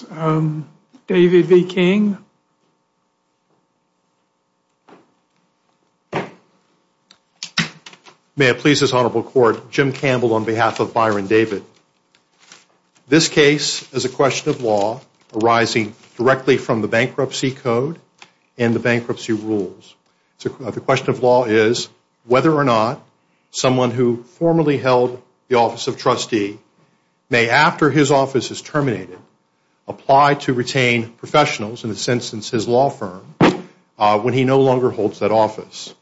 May it please this honorable court, Jim Campbell on behalf of Byron David. This case is a question of law arising directly from the bankruptcy code and the bankruptcy rules. The question of law is whether or not someone who formerly held the office of trustee may after his office is terminated apply to retain professionals, in this instance his law firm, when he no longer holds that office.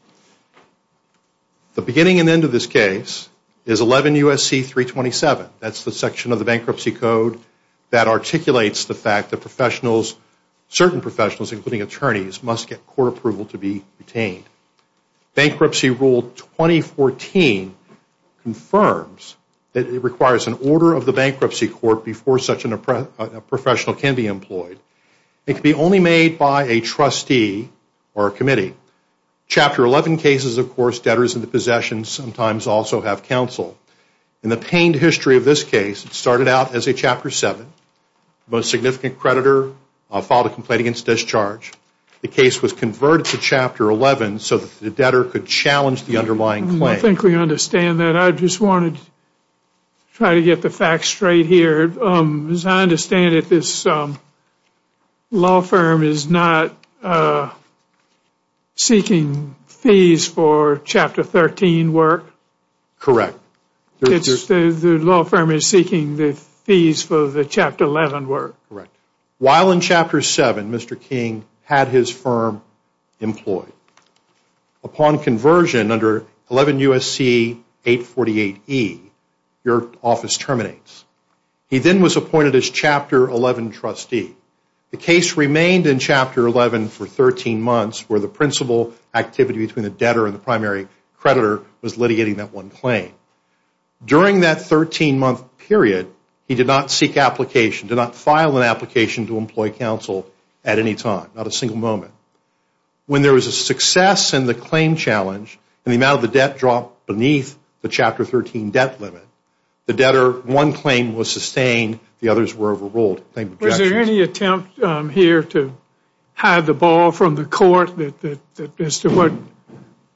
The beginning and end of this case is 11 U.S.C. 327. That's the section of the bankruptcy code that articulates the fact that certain professionals including attorneys must get court approval to be retained. Bankruptcy rule 2014 confirms that it requires an order of the bankruptcy court before such a professional can be employed. It can be only made by a trustee or a committee. Chapter 11 cases, of course, debtors in the possession sometimes also have counsel. In the pained history of this case, it started out as a Chapter 7. The most significant creditor filed a complaint against discharge. The case was converted to Chapter 11 so that the debtor could challenge the underlying claim. I think we understand that. I just wanted to try to get the facts straight here. As I understand it, this law firm is not seeking fees for Chapter 13 work? Correct. The law firm is seeking the fees for the Chapter 11 work? Correct. While in Chapter 7, Mr. King had his firm employed. Upon conversion under 11 U.S.C. 848E, your office terminates. He then was appointed as Chapter 11 trustee. The case remained in Chapter 11 for 13 months where the principal activity between the debtor and the primary creditor was litigating that one claim. During that 13 month period, he did not seek application, did not file an application to employ counsel at any time, not a single moment. When there was a success in the claim challenge and the amount of the debt dropped beneath the Chapter 13 debt limit, the debtor, one claim was sustained, the others were overruled. Was there any attempt here to hide the ball from the court as to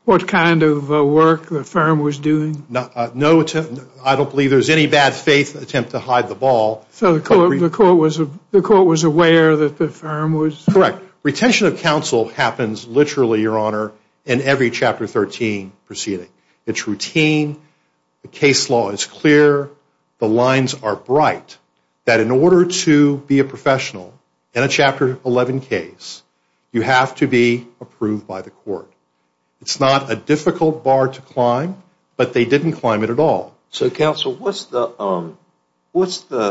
what kind of work the firm was doing? No, I don't believe there's any bad faith attempt to hide the ball. So the court was aware that the firm was? Correct. Retention of counsel happens literally, Your Honor, in every Chapter 13 proceeding. It's routine, the case law is clear, the lines are bright that in order to be a professional in a Chapter 11 case, you have to be approved by the court. It's not a difficult bar to climb. It didn't climb it at all. So counsel, what's the,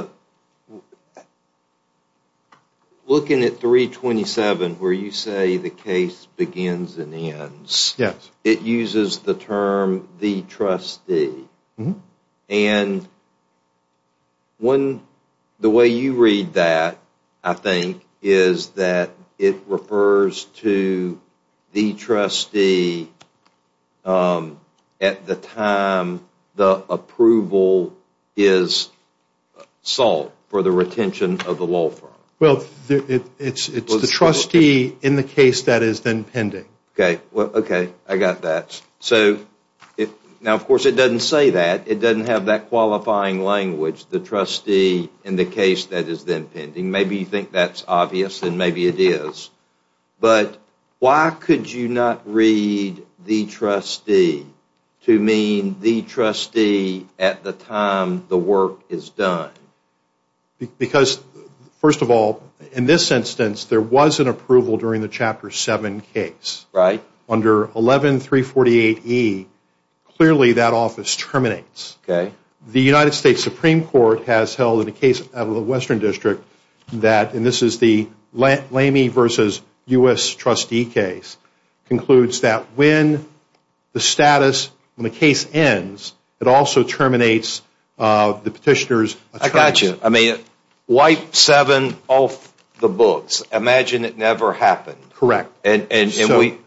looking at 327 where you say the case begins and ends, it uses the term the trustee. And the way you read that, I think, is that it refers to the trustee at the time the approval is sought for the retention of the law firm. Well, it's the trustee in the case that is then pending. Okay, I got that. Now, of course, it doesn't say that. It doesn't have that qualifying language, the trustee in the case that is then pending. Maybe you think that's obvious and maybe it is. But why could you not read the trustee to mean the trustee at the time the work is done? Because first of all, in this instance, there was an approval during the Chapter 7 case. Under 11348E, clearly that office terminates. The United States Supreme Court has held in the case of the Western District that, and this is the Lamey versus U.S. trustee case, concludes that when the status, when the case ends, it also terminates the petitioner's attributes. I got you. I mean, wipe seven off the books. Imagine it never happened. Correct. And we,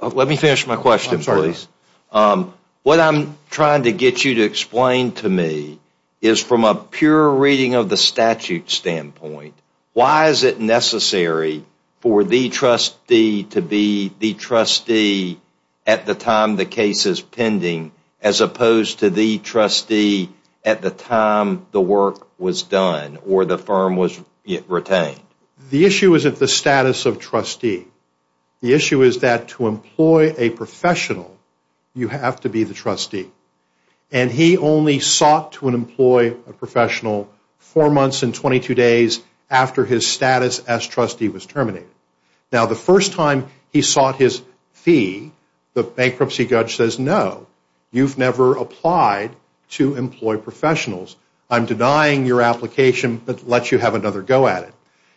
let me finish my question please. What I'm trying to get you to explain to me is from a pure reading of the statute standpoint, why is it necessary for the trustee to be the trustee at the time the case is pending as opposed to the trustee at the time the work was done or the firm was retained? The issue isn't the status of trustee. The issue is that to employ a professional, you He only sought to employ a professional four months and 22 days after his status as trustee was terminated. Now the first time he sought his fee, the bankruptcy judge says, no, you've never applied to employ professionals. I'm denying your application but let you have another go at it.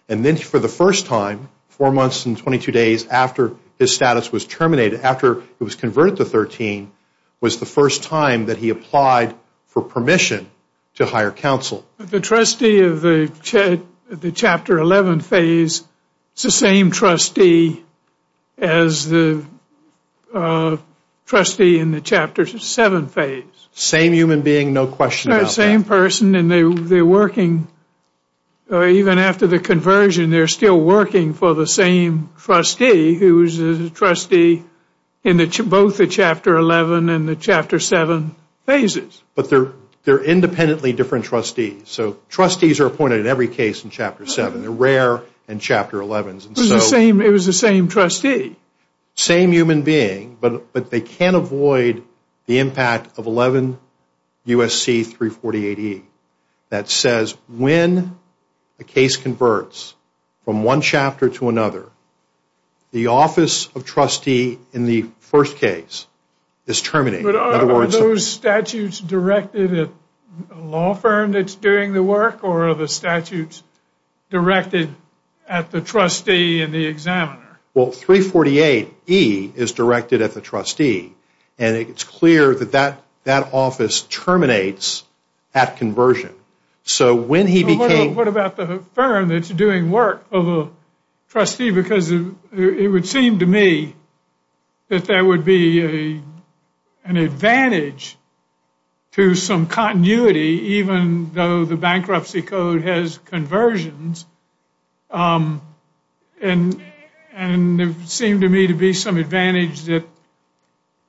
And then for the first time, four months and 22 days after his status was terminated, after it was converted to 13, was the first time that he applied for permission to hire counsel. The trustee of the chapter 11 phase is the same trustee as the trustee in the chapter 7 phase. Same human being, no question about that. Same person and they're working, even after the conversion, they're still working for the same trustee who is a trustee in both the chapter 11 and the chapter 7 phases. But they're independently different trustees. So trustees are appointed in every case in chapter 7. They're rare in chapter 11. It was the same trustee. Same human being but they can't avoid the impact of 11 U.S.C. 348E that says when a the office of trustee in the first case is terminated. But are those statutes directed at a law firm that's doing the work or are the statutes directed at the trustee and the examiner? Well, 348E is directed at the trustee and it's clear that that office terminates at conversion. What about the firm that's doing work of a trustee because it would seem to me that there would be an advantage to some continuity even though the bankruptcy code has conversions. And it seemed to me to be some advantage that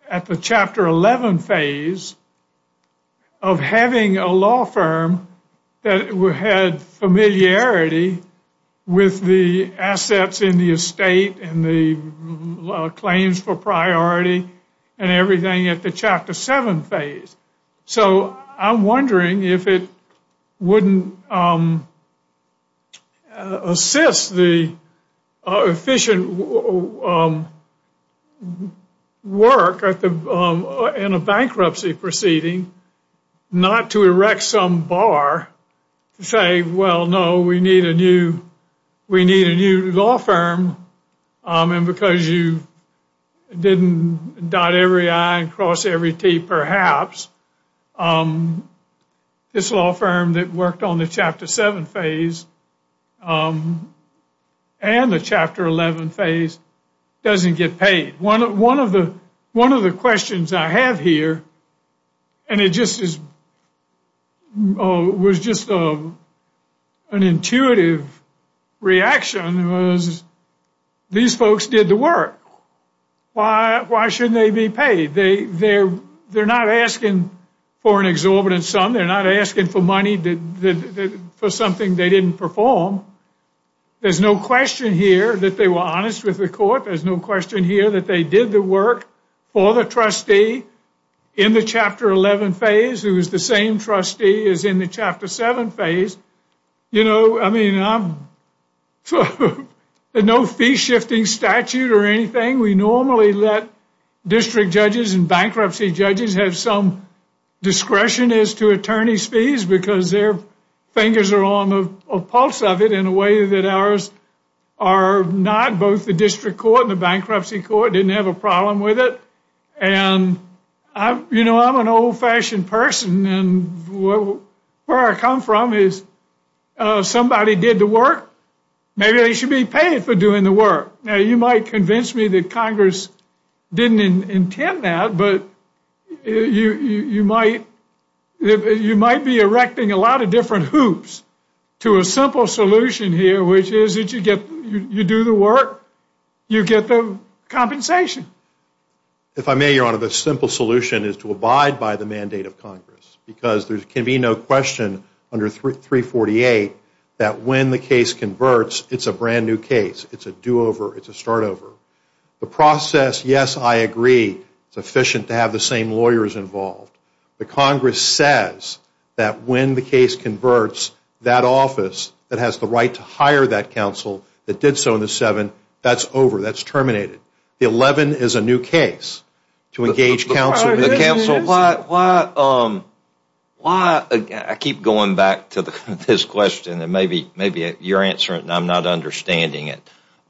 at the chapter 11 phase of having a law firm that had familiarity with the assets in the estate and the claims for priority and everything at the chapter 7 phase. So I'm wondering if it wouldn't assist the efficient work in a bankruptcy proceeding not to erect some bar to say, well, no, we need a new law firm and because you didn't dot every I and cross every T perhaps, this law firm that worked on the chapter 7 phase and the chapter 11 phase doesn't get paid. One of the questions I have here and it was just an intuitive reaction was these folks did the work. Why shouldn't they be paid? They're not asking for an exorbitant sum. They're not asking for money for something they didn't perform. There's no question here that they were honest with the court. There's no question here that they did the work for the trustee in the chapter 11 phase who is the same trustee as in the chapter 7 phase. I mean, there's no fee shifting statute or anything. We normally let district judges and bankruptcy judges have some discretion as to attorney's fees because their fingers are on the pulse of it in a way that ours are not. Both the district court and the bankruptcy court didn't have a problem with it. You know, I'm an old-fashioned person and where I come from is somebody did the work, maybe they should be paid for doing the work. Now, you might convince me that Congress didn't intend that, but you might be erecting a lot of different hoops to a simple solution here, which is that you do the work, you get the compensation. If I may, Your Honor, the simple solution is to abide by the mandate of Congress because there can be no question under 348 that when the case converts, it's a brand-new case. It's a do-over. It's a start-over. The process, yes, I agree, it's efficient to have the same lawyers involved. But Congress says that when the case converts, that office that has the right to hire that counsel that did so in the 7, that's over. That's terminated. The 11 is a new case to engage counsel. Counsel, I keep going back to this question and maybe you're answering it and I'm not understanding it.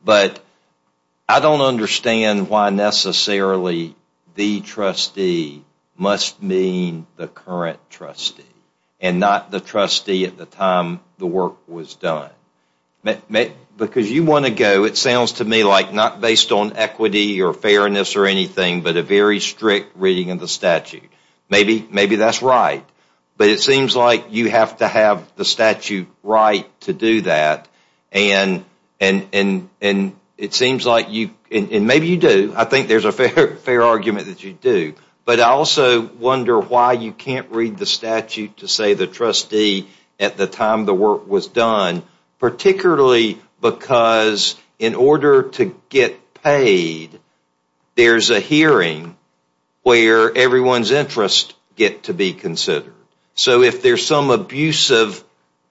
But I don't understand why necessarily the trustee must mean the current trustee and not the trustee at the time the work was done. Because you want to go, it sounds to me like not based on equity or fairness or anything, but a very strict reading of the statute. Maybe that's right. But it seems like you have to have the statute right to do that. And it seems like you, and maybe you do. I think there's a fair argument that you do. But I also wonder why you can't read the statute to say the trustee at the time the work was done, particularly because in order to get paid, there's a hearing where everyone's interests get to be considered. So if there's some abusive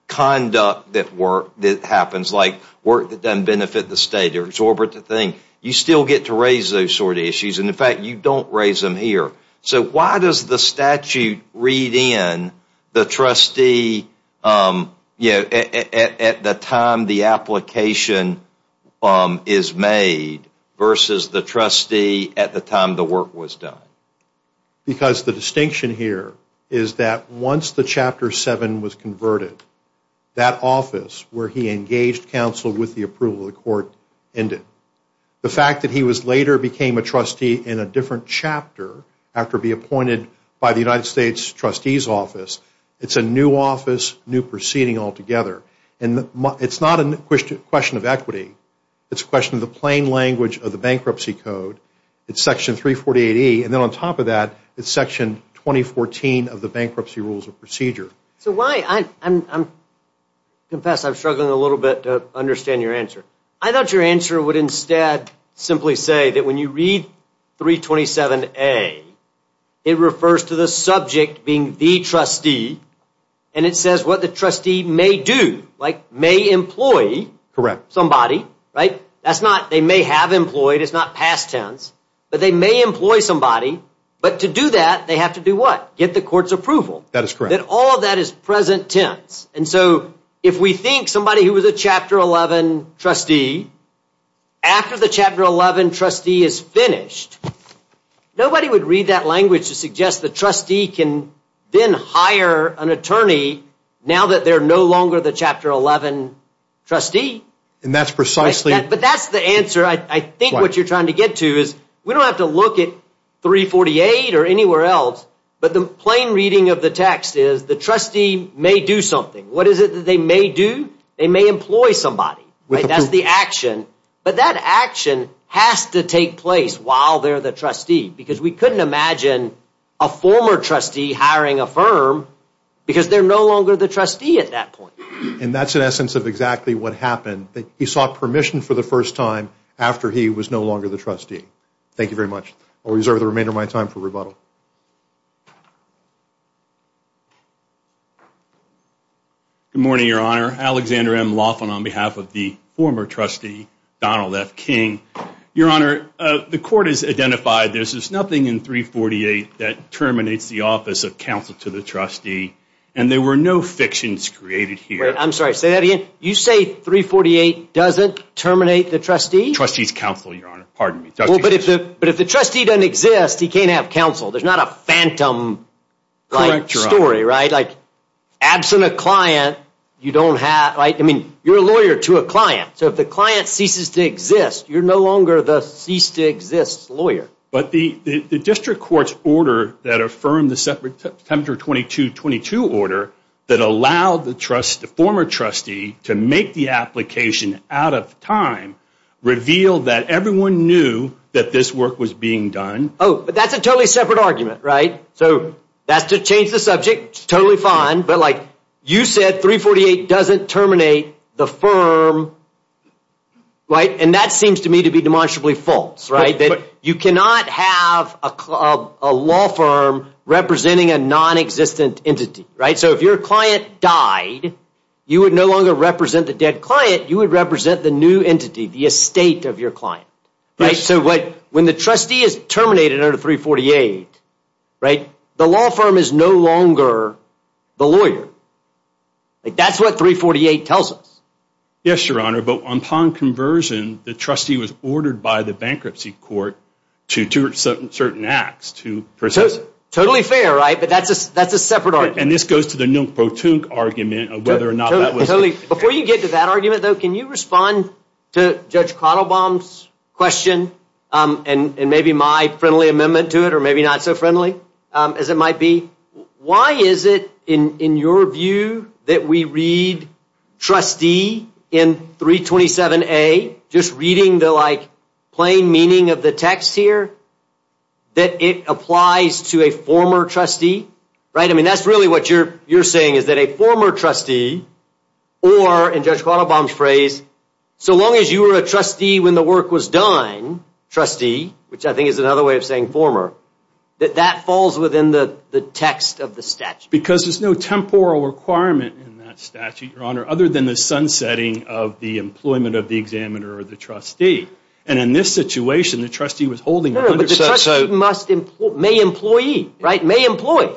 conduct that happens, like work that doesn't benefit the state, you still get to raise those sort of issues. And in fact, you don't raise them here. So why does the statute read in the trustee at the time the application is made versus the trustee at the time the work was done? Because the distinction here is that once the Chapter 7 was converted, that office where he engaged counsel with the approval of the court ended. The fact that he later became a trustee in a different chapter after being appointed by the United States Trustee's Office, it's a new office, new proceeding altogether. And it's not a question of equity. It's a question of the plain language of the Bankruptcy Code. It's Section 348E. And then on top of that, it's Section 2014 of the Bankruptcy Rules of Procedure. So why? I confess I'm struggling a little bit to understand your answer. I thought your answer would instead simply say that when you read 327A, it refers to the subject being the trustee. And it says what the trustee may do, like may employ somebody. That's not they may have employed. It's not past tense. But they may employ somebody. But to do that, they have to do what? Get the court's approval. That is correct. That all of that is present tense. And so if we think somebody who was a Chapter 11 trustee, after the Chapter 11 trustee is finished, nobody would read that language to suggest the trustee can then hire an attorney now that they're no longer the Chapter 11 trustee. And that's precisely... But that's the answer I think what you're trying to get to is we don't have to look at 348 or anywhere else, but the plain reading of the text is the trustee may do something. What is it that they may do? They may employ somebody. That's the action. But that action has to take place while they're the trustee because we couldn't imagine a former trustee hiring a firm because they're no longer the trustee at that point. And that's in essence of exactly what happened. He sought permission for the first time after he was no longer the trustee. Thank you very much. I'll reserve the remainder of my time for rebuttal. Good morning, Your Honor. Alexander M. Laughlin on behalf of the former trustee, Donald F. King. Your Honor, the court has identified there's nothing in 348 that terminates the office of counsel to the trustee, and there were no fictions created here. Wait, I'm sorry. Say that again. You say 348 doesn't terminate the trustee? Trustee's counsel, Your Honor. But if the trustee doesn't exist, he can't have counsel. There's not a phantom-like story, right? Correct, Your Honor. Like, absent a client, you don't have, right? I mean, you're a lawyer to a client. So if the client ceases to exist, you're no longer the ceased-to-exist lawyer. But the district court's order that affirmed the Tempter 2222 order that allowed the former trustee to make the application out of time revealed that everyone knew that this work was being done. Oh, but that's a totally separate argument, right? So that's to change the subject. Totally fine. But, like, you said 348 doesn't terminate the firm, right? And that seems to me to be demonstrably false, right? You cannot have a law firm representing a nonexistent entity, right? So if your client died, you would no longer represent the dead client. You would represent the new entity, the estate of your client, right? So when the trustee is terminated under 348, right, the law firm is no longer the lawyer. Like, that's what 348 tells us. Yes, Your Honor. But upon conversion, the trustee was ordered by the bankruptcy court to do certain acts to process it. Totally fair, right? But that's a separate argument. And this goes to the nilpotent argument of whether or not that was the case. Before you get to that argument, though, can you respond to Judge Kotelbaum's question and maybe my friendly amendment to it or maybe not so friendly as it might be? Why is it, in your view, that we read trustee in 327A, just reading the, like, plain meaning of the text here, that it applies to a former trustee, right? I mean, that's really what you're saying is that a former trustee or, in Judge Kotelbaum's phrase, so long as you were a trustee when the work was done, trustee, which I think is another way of saying former, that that falls within the text of the statute. Because there's no temporal requirement in that statute, Your Honor, other than the sunsetting of the employment of the examiner or the trustee. And in this situation, the trustee was holding 100 percent. May employee, right? May employ.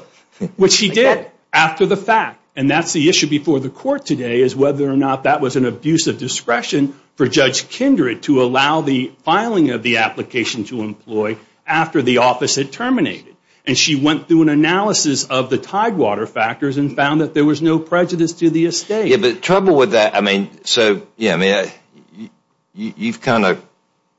Which he did after the fact. And that's the issue before the court today is whether or not that was an abuse of discretion for Judge Kindred to allow the filing of the application to employ after the office had terminated. And she went through an analysis of the tidewater factors and found that there was no prejudice to the estate. Yeah, but the trouble with that, I mean, so, yeah, you've kind of,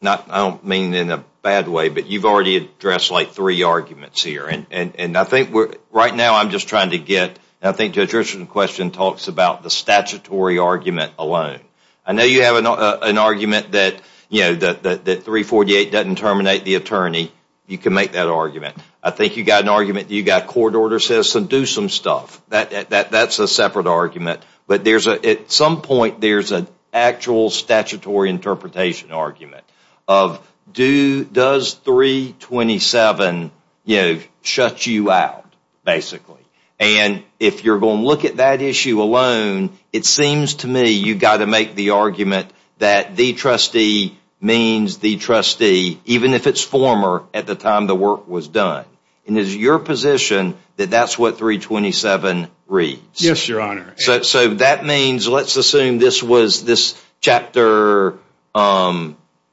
I don't mean in a bad way, but you've already addressed, like, three arguments here. And I think right now I'm just trying to get, I think Judge Richardson's question talks about the statutory argument alone. I know you have an argument that, you know, that 348 doesn't terminate the attorney. You can make that argument. I think you've got an argument that you've got court order says to do some stuff. That's a separate argument. But at some point there's an actual statutory interpretation argument of does 327, you know, shut you out, basically. And if you're going to look at that issue alone, it seems to me you've got to make the argument that the trustee means the trustee, even if it's former, at the time the work was done. And is it your position that that's what 327 reads? Yes, Your Honor. So that means, let's assume this was this Chapter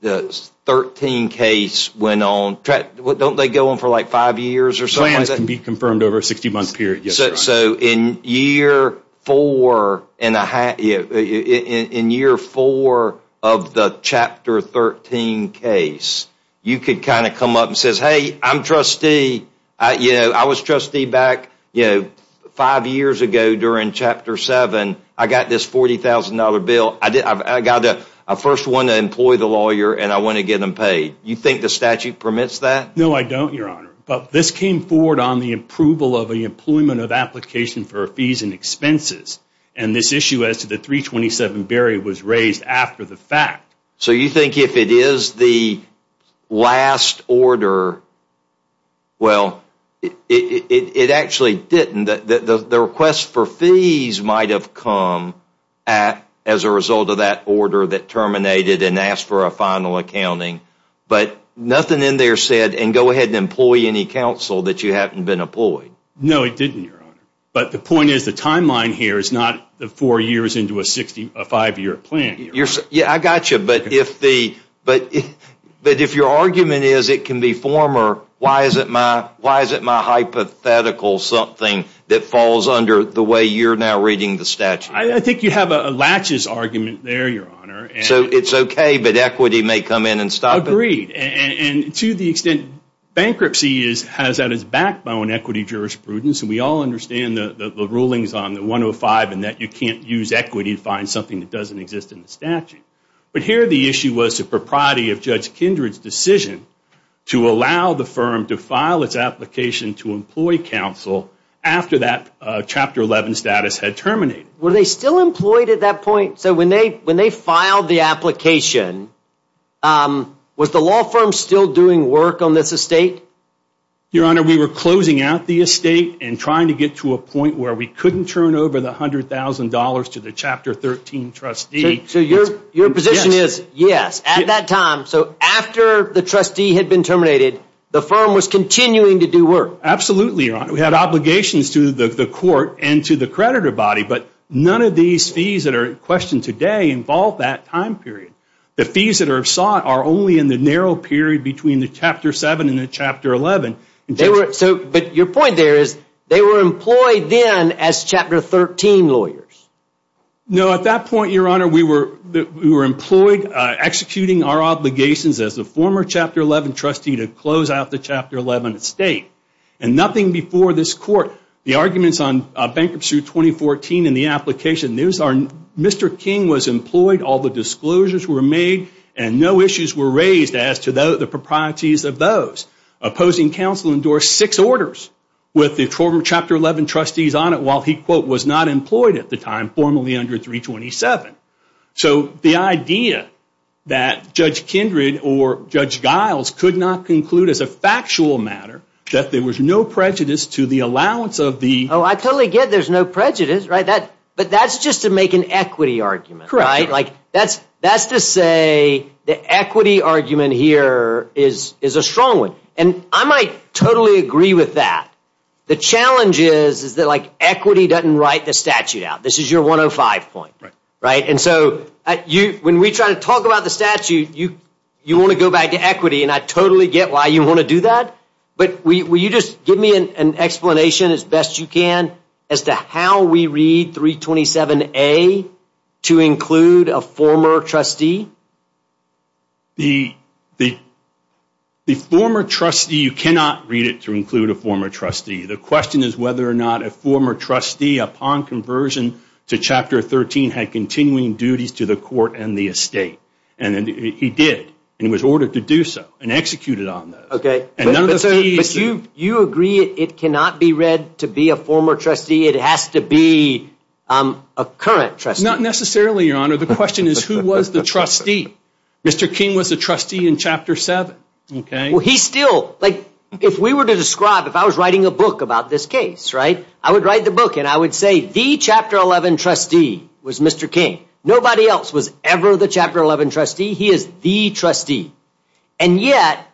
13 case went on. Don't they go on for, like, five years or something? Plans can be confirmed over a 60-month period, yes, Your Honor. So in year four of the Chapter 13 case, you could kind of come up and say, hey, I'm trustee. You know, I was trustee back, you know, five years ago during Chapter 7. I got this $40,000 bill. I got a first one to employ the lawyer, and I want to get them paid. You think the statute permits that? No, I don't, Your Honor. But this came forward on the approval of the employment of application for fees and expenses. And this issue as to the 327 barrier was raised after the fact. So you think if it is the last order, well, it actually didn't. The request for fees might have come as a result of that order that terminated and asked for a final accounting. But nothing in there said, and go ahead and employ any counsel that you haven't been employed. No, it didn't, Your Honor. But the point is the timeline here is not the four years into a five-year plan. Yeah, I got you. But if your argument is it can be former, why is it my hypothetical something that falls under the way you're now reading the statute? I think you have a latches argument there, Your Honor. So it's okay, but equity may come in and stop it? Agreed. And to the extent bankruptcy has that as backbone equity jurisprudence, and we all understand the rulings on the 105 and that you can't use equity to find something that doesn't exist in the statute. But here the issue was the propriety of Judge Kindred's decision to allow the firm to file its application to employ counsel after that Chapter 11 status had terminated. Were they still employed at that point? So when they filed the application, was the law firm still doing work on this estate? Your Honor, we were closing out the estate and trying to get to a point where we couldn't turn over the $100,000 to the Chapter 13 trustee. So your position is, yes, at that time, so after the trustee had been terminated, the firm was continuing to do work? Absolutely, Your Honor. We had obligations to the court and to the creditor body, but none of these fees that are in question today involve that time period. The fees that are sought are only in the narrow period between the Chapter 7 and the Chapter 11. But your point there is they were employed then as Chapter 13 lawyers. No, at that point, Your Honor, we were employed, executing our obligations as a former Chapter 11 trustee to close out the Chapter 11 estate. And nothing before this court, the arguments on bankruptcy 2014 and the application, Mr. King was employed, all the disclosures were made, and no issues were raised as to the proprieties of those. Opposing counsel endorsed six orders with the former Chapter 11 trustees on it while he, quote, was not employed at the time, formally under 327. So the idea that Judge Kindred or Judge Giles could not conclude as a factual matter that there was no prejudice to the allowance of the Oh, I totally get there's no prejudice, right? But that's just to make an equity argument, right? Like, that's to say the equity argument here is a strong one. And I might totally agree with that. The challenge is that, like, equity doesn't write the statute out. This is your 105 point, right? And so when we try to talk about the statute, you want to go back to equity, and I totally get why you want to do that. But will you just give me an explanation as best you can as to how we read 327A to include a former trustee? The former trustee, you cannot read it to include a former trustee. The question is whether or not a former trustee, upon conversion to Chapter 13, had continuing duties to the court and the estate. And he did, and it was ordered to do so and executed on those. But you agree it cannot be read to be a former trustee? It has to be a current trustee? Not necessarily, Your Honor. The question is who was the trustee? Mr. King was a trustee in Chapter 7. Well, he still, like, if we were to describe, if I was writing a book about this case, right? I would write the book, and I would say the Chapter 11 trustee was Mr. King. Nobody else was ever the Chapter 11 trustee. He is the trustee. And yet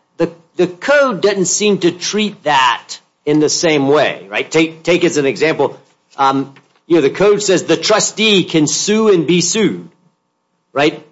the code doesn't seem to treat that in the same way, right? Take as an example, you know, the code says the trustee can sue and be sued, right?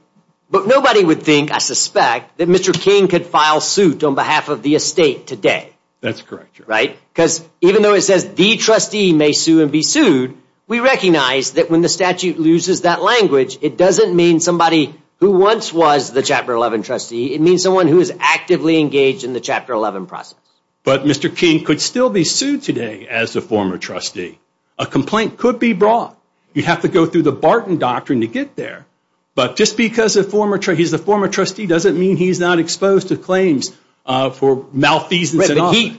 But nobody would think, I suspect, that Mr. King could file suit on behalf of the estate today. That's correct, Your Honor. Because even though it says the trustee may sue and be sued, we recognize that when the statute loses that language, it doesn't mean somebody who once was the Chapter 11 trustee. It means someone who is actively engaged in the Chapter 11 process. But Mr. King could still be sued today as a former trustee. A complaint could be brought. You'd have to go through the Barton Doctrine to get there. But just because he's a former trustee doesn't mean he's not exposed to claims for malfeasance.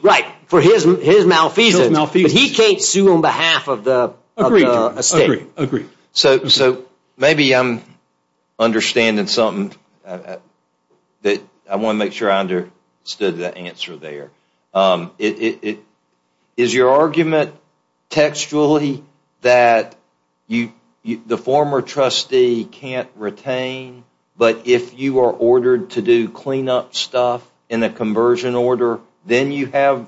Right. For his malfeasance. But he can't sue on behalf of the estate. Agreed. So maybe I'm understanding something. I want to make sure I understood the answer there. Is your argument textually that the former trustee can't retain, but if you are ordered to do cleanup stuff in a conversion order, then you have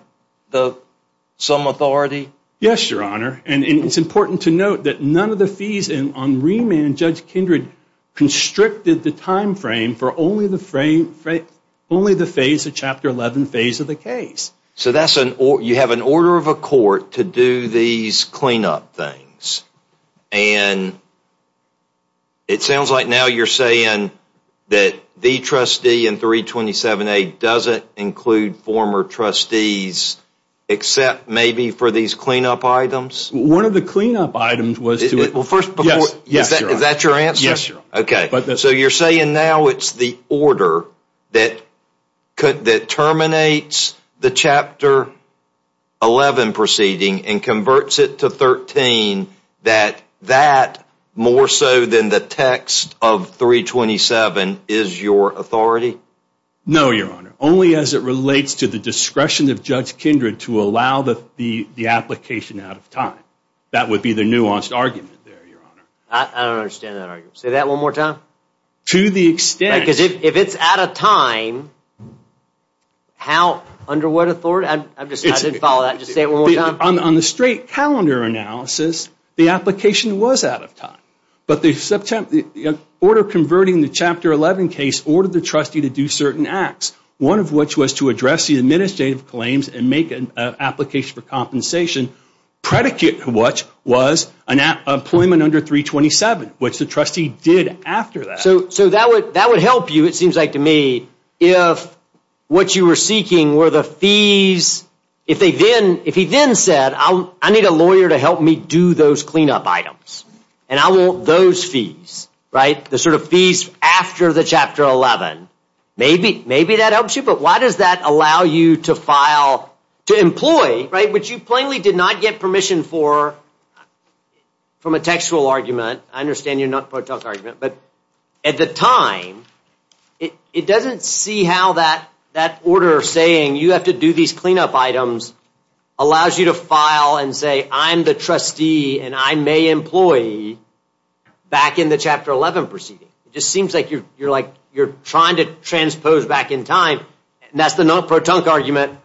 some authority? Yes, Your Honor. And it's important to note that none of the fees on remand, Judge Kindred, constricted the time frame for only the phase of Chapter 11 phase of the case. So you have an order of a court to do these cleanup things. And it sounds like now you're saying that the trustee in 327A doesn't include former trustees except maybe for these cleanup items? One of the cleanup items was to Is that your answer? Yes, Your Honor. Okay. So you're saying now it's the order that terminates the Chapter 11 proceeding and converts it to 13, that that more so than the text of 327 is your authority? No, Your Honor. Only as it relates to the discretion of Judge Kindred to allow the application out of time. That would be the nuanced argument there, Your Honor. I don't understand that argument. Say that one more time. To the extent Because if it's out of time, how, under what authority? I didn't follow that. Just say it one more time. On the straight calendar analysis, the application was out of time. But the order converting the Chapter 11 case ordered the trustee to do certain acts, one of which was to address the administrative claims and make an application for compensation, predicate which was employment under 327, which the trustee did after that. So that would help you, it seems like to me, if what you were seeking were the fees. If he then said, I need a lawyer to help me do those cleanup items, and I want those fees, right, the sort of fees after the Chapter 11, maybe that helps you, but why does that allow you to file, to employ, right, which you plainly did not get permission for from a textual argument. I understand you're not part of the argument. But at the time, it doesn't see how that order saying you have to do these cleanup items allows you to file and say I'm the trustee and I may employ back in the Chapter 11 proceeding. It just seems like you're trying to transpose back in time. And that's the no-protunk argument.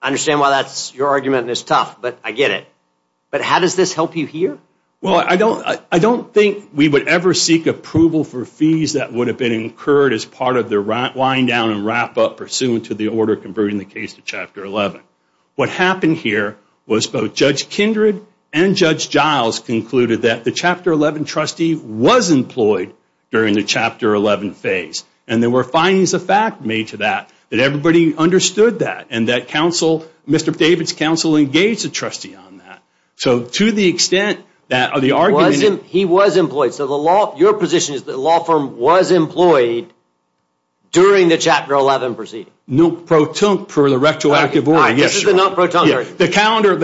I understand why that's your argument and it's tough, but I get it. But how does this help you here? Well, I don't think we would ever seek approval for fees that would have been incurred as part of the wind-down and wrap-up pursuant to the order converting the case to Chapter 11. What happened here was both Judge Kindred and Judge Giles concluded that the Chapter 11 trustee was employed during the Chapter 11 phase. And there were findings of fact made to that that everybody understood that and that Mr. David's counsel engaged the trustee on that. So to the extent that the argument... He was employed, so your position is the law firm was employed during the Chapter 11 proceeding. No-protunk for the retroactive order, yes, Your Honor. The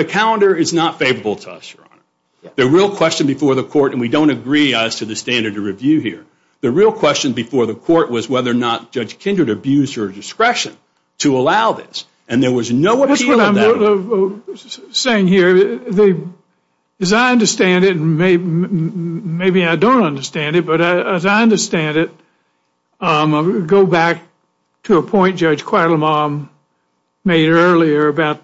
calendar is not favorable to us, Your Honor. The real question before the court, and we don't agree as to the standard of review here, the real question before the court was whether or not Judge Kindred abused her discretion to allow this. That's what I'm saying here. As I understand it, and maybe I don't understand it, but as I understand it, I'm going to go back to a point Judge Quattlebaum made earlier about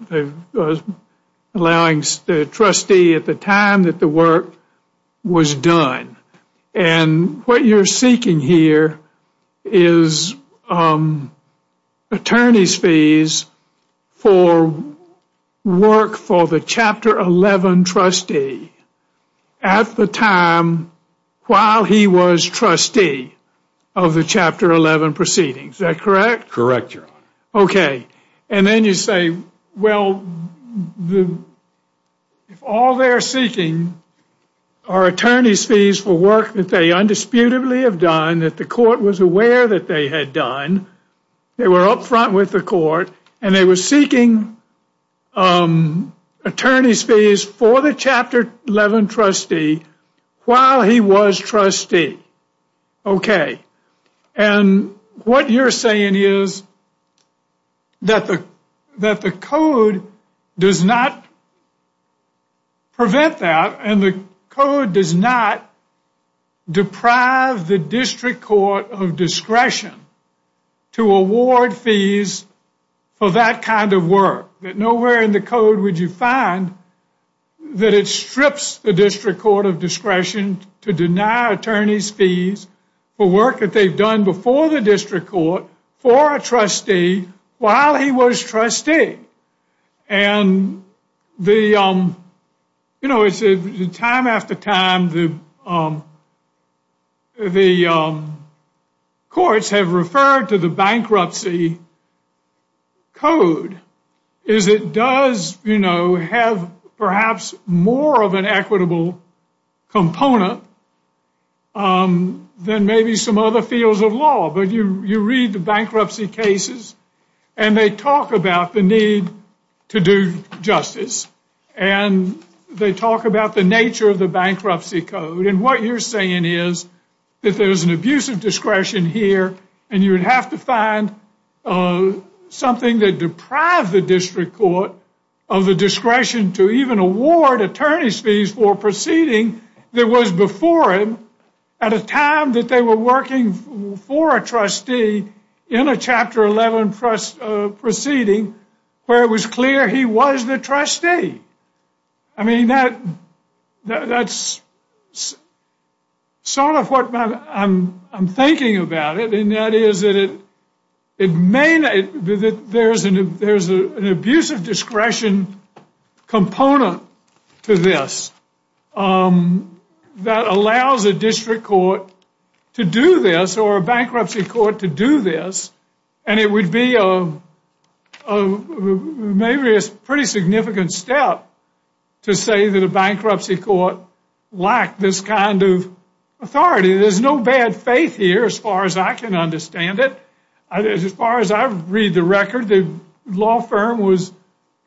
allowing the trustee at the time that the work was done. And what you're seeking here is attorney's fees for work for the Chapter 11 trustee at the time while he was trustee of the Chapter 11 proceedings. Is that correct? Correct, Your Honor. Okay, and then you say, well, if all they're seeking are attorney's fees for work that they undisputably have done, that the court was aware that they had done, they were up front with the court, and they were seeking attorney's fees for the Chapter 11 trustee while he was trustee. Okay, and what you're saying is that the code does not prevent that, and the code does not deprive the District Court of discretion to award fees for that kind of work. Nowhere in the code would you find that it strips the District Court of discretion to deny attorney's fees for work that they've done before the District Court for a trustee while he was trustee. And, you know, time after time, the courts have referred to the bankruptcy code as it does, you know, have perhaps more of an equitable component than maybe some other fields of law. But you read the bankruptcy cases, and they talk about the need to do justice, and they talk about the nature of the bankruptcy code. And what you're saying is that there's an abuse of discretion here, and you would have to find something that deprived the District Court of the discretion to even award attorney's fees for a proceeding that was before him at a time that they were working for a trustee in a Chapter 11 proceeding where it was clear he was the trustee. I mean, that's sort of what I'm thinking about it, and that is that there's an abuse of discretion component to this that allows a District Court to do this or a bankruptcy court to do this, and it would be maybe a pretty significant step to say that a bankruptcy court lacked this kind of authority. There's no bad faith here as far as I can understand it. As far as I read the record, the law firm was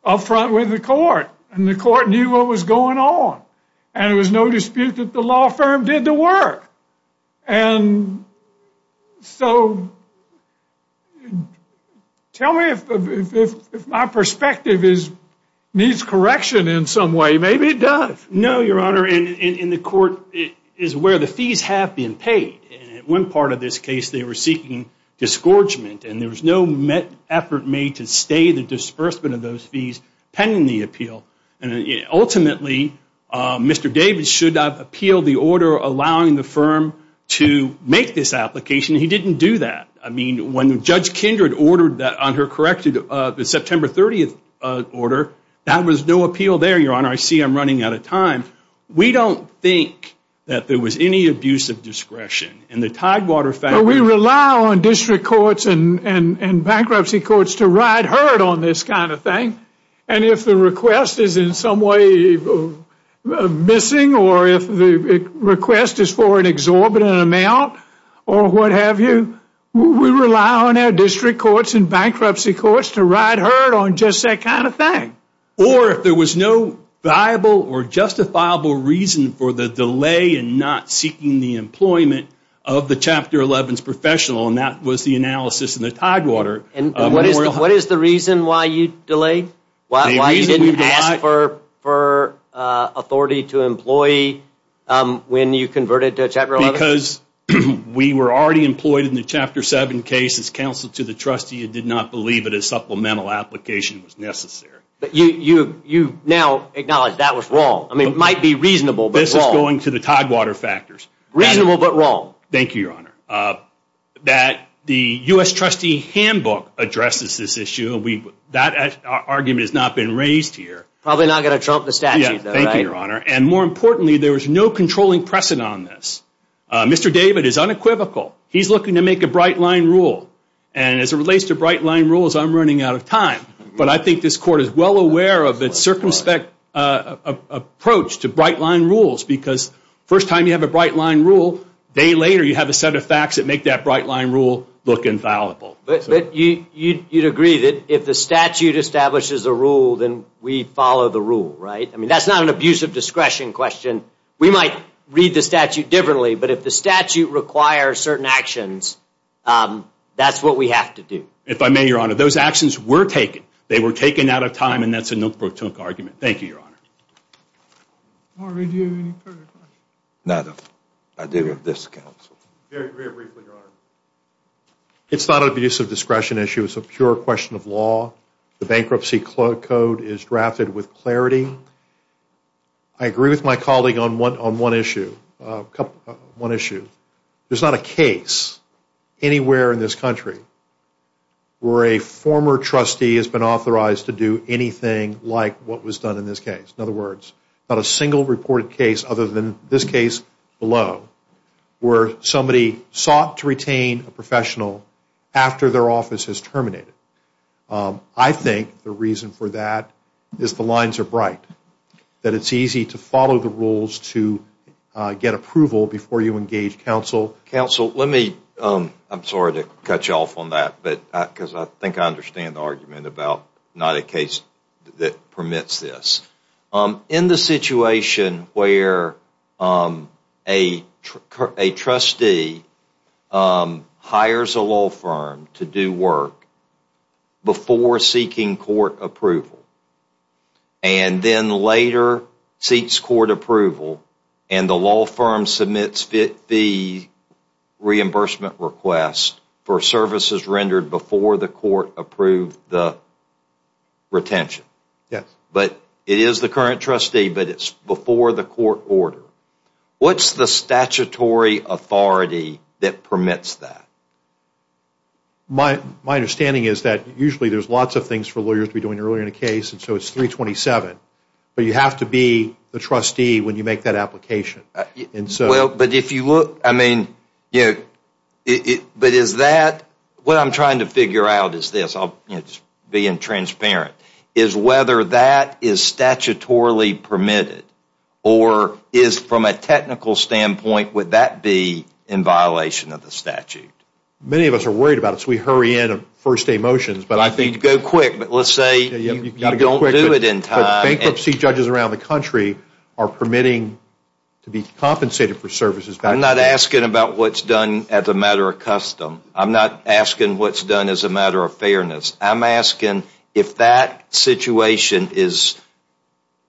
up front with the court, and the court knew what was going on, and there was no dispute that the law firm did the work. And so tell me if my perspective needs correction in some way. Maybe it does. No, Your Honor, and the court is aware the fees have been paid. At one part of this case, they were seeking disgorgement, and there was no effort made to stay the disbursement of those fees pending the appeal. Ultimately, Mr. Davis should have appealed the order allowing the firm to make this application. He didn't do that. I mean, when Judge Kindred ordered that on her corrected September 30th order, that was no appeal there, Your Honor. I see I'm running out of time. We don't think that there was any abuse of discretion, and the Tidewater family Well, we rely on District Courts and bankruptcy courts to ride herd on this kind of thing, and if the request is in some way missing or if the request is for an exorbitant amount or what have you, we rely on our District Courts and bankruptcy courts to ride herd on just that kind of thing. Or if there was no viable or justifiable reason for the delay in not seeking the employment of the Chapter 11's professional, and that was the analysis in the Tidewater. And what is the reason why you delayed? Why you didn't ask for authority to employ when you converted to Chapter 11? Because we were already employed in the Chapter 7 case as counsel to the trustee and did not believe that a supplemental application was necessary. But you now acknowledge that was wrong. I mean, it might be reasonable, but wrong. This is going to the Tidewater factors. Reasonable, but wrong. Thank you, Your Honor. That the U.S. trustee handbook addresses this issue. That argument has not been raised here. Probably not going to trump the statute. Thank you, Your Honor. And more importantly, there was no controlling precedent on this. Mr. David is unequivocal. He's looking to make a bright line rule. And as it relates to bright line rules, I'm running out of time. But I think this Court is well aware of its circumspect approach to bright line rules because the first time you have a bright line rule, a day later you have a set of facts that make that bright line rule look infallible. But you'd agree that if the statute establishes a rule, then we follow the rule, right? I mean, that's not an abuse of discretion question. We might read the statute differently, but if the statute requires certain actions, that's what we have to do. If I may, Your Honor, those actions were taken. They were taken out of time, and that's a no-protest argument. Thank you, Your Honor. Harvey, do you have any further questions? None. I do have this, Counsel. Very briefly, Your Honor. It's not an abuse of discretion issue. It's a pure question of law. The Bankruptcy Code is drafted with clarity. I agree with my colleague on one issue. There's not a case anywhere in this country where a former trustee has been authorized to do anything like what was done in this case. In other words, not a single reported case other than this case below where somebody sought to retain a professional after their office has terminated. I think the reason for that is the lines are bright, that it's easy to follow the rules to get approval before you engage counsel. Counsel, I'm sorry to cut you off on that, because I think I understand the argument about not a case that permits this. In the situation where a trustee hires a law firm to do work before seeking court approval, and then later seeks court approval, and the law firm submits the reimbursement request for services rendered before the court approved the retention. Yes. But it is the current trustee, but it's before the court order. What's the statutory authority that permits that? My understanding is that usually there's lots of things for lawyers to be doing earlier in a case, and so it's 327. But you have to be the trustee when you make that application. Well, but if you look, I mean, you know, but is that, what I'm trying to figure out is this, being transparent, is whether that is statutorily permitted, or is from a technical standpoint, would that be in violation of the statute? Many of us are worried about it, so we hurry in on first day motions. But let's say you don't do it in time. Bankruptcy judges around the country are permitting to be compensated for services. I'm not asking about what's done as a matter of custom. I'm not asking what's done as a matter of fairness. I'm asking if that situation is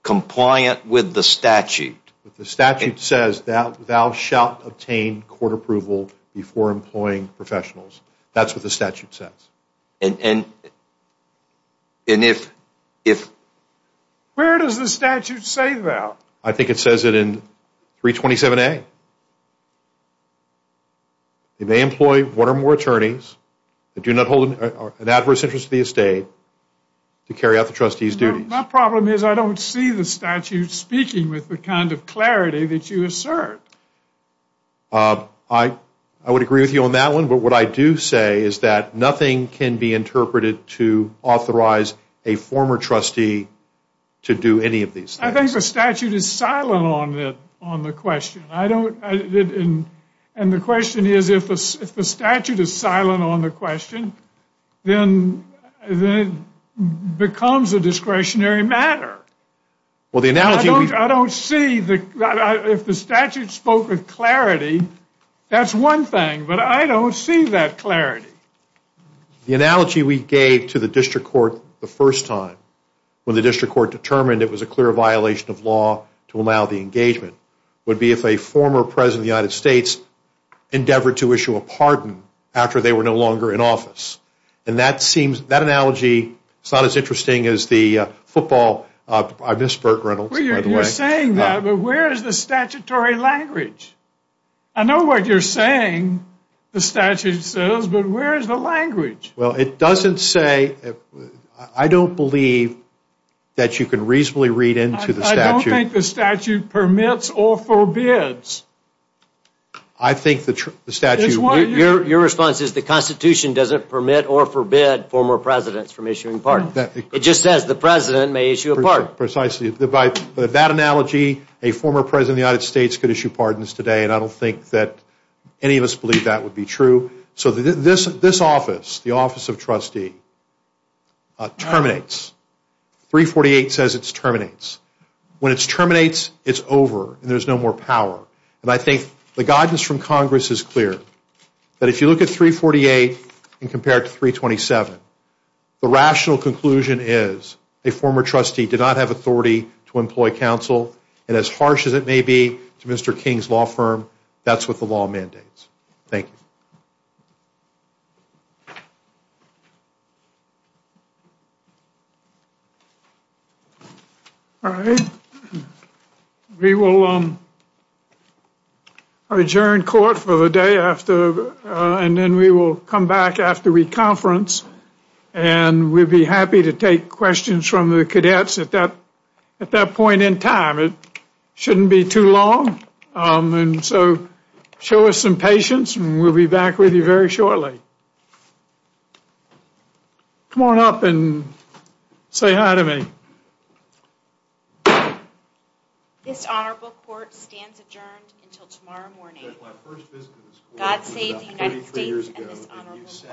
compliant with the statute. The statute says thou shalt obtain court approval before employing professionals. That's what the statute says. And if? Where does the statute say that? I think it says it in 327A. You may employ one or more attorneys that do not hold an adverse interest to the estate to carry out the trustee's duties. My problem is I don't see the statute speaking with the kind of clarity that you assert. I would agree with you on that one, but what I do say is that nothing can be interpreted to authorize a former trustee to do any of these things. I think the statute is silent on the question. And the question is if the statute is silent on the question, then it becomes a discretionary matter. I don't see if the statute spoke with clarity. That's one thing, but I don't see that clarity. The analogy we gave to the district court the first time when the district court determined it was a clear violation of law to allow the engagement would be if a former president of the United States endeavored to issue a pardon after they were no longer in office. That analogy is not as interesting as the football. I miss Bert Reynolds, by the way. You're saying that, but where is the statutory language? I know what you're saying the statute says, but where is the language? Well, it doesn't say. I don't believe that you can reasonably read into the statute. I don't think the statute permits or forbids. I think the statute. Your response is the Constitution doesn't permit or forbid former presidents from issuing pardons. It just says the president may issue a pardon. Precisely. By that analogy, a former president of the United States could issue pardons today, and I don't think that any of us believe that would be true. So this office, the office of trustee, terminates. 348 says it terminates. When it terminates, it's over, and there's no more power. And I think the guidance from Congress is clear, that if you look at 348 and compare it to 327, the rational conclusion is a former trustee did not have authority to employ counsel, and as harsh as it may be to Mr. King's law firm, that's what the law mandates. Thank you. All right. We will adjourn court for the day after, and then we will come back after we conference, and we'll be happy to take questions from the cadets at that point in time. It shouldn't be too long. And so show us some patience, and we'll be back with you very shortly. Come on up and say hi to me. This honorable court stands adjourned until tomorrow morning. God save the United States and this honorable court.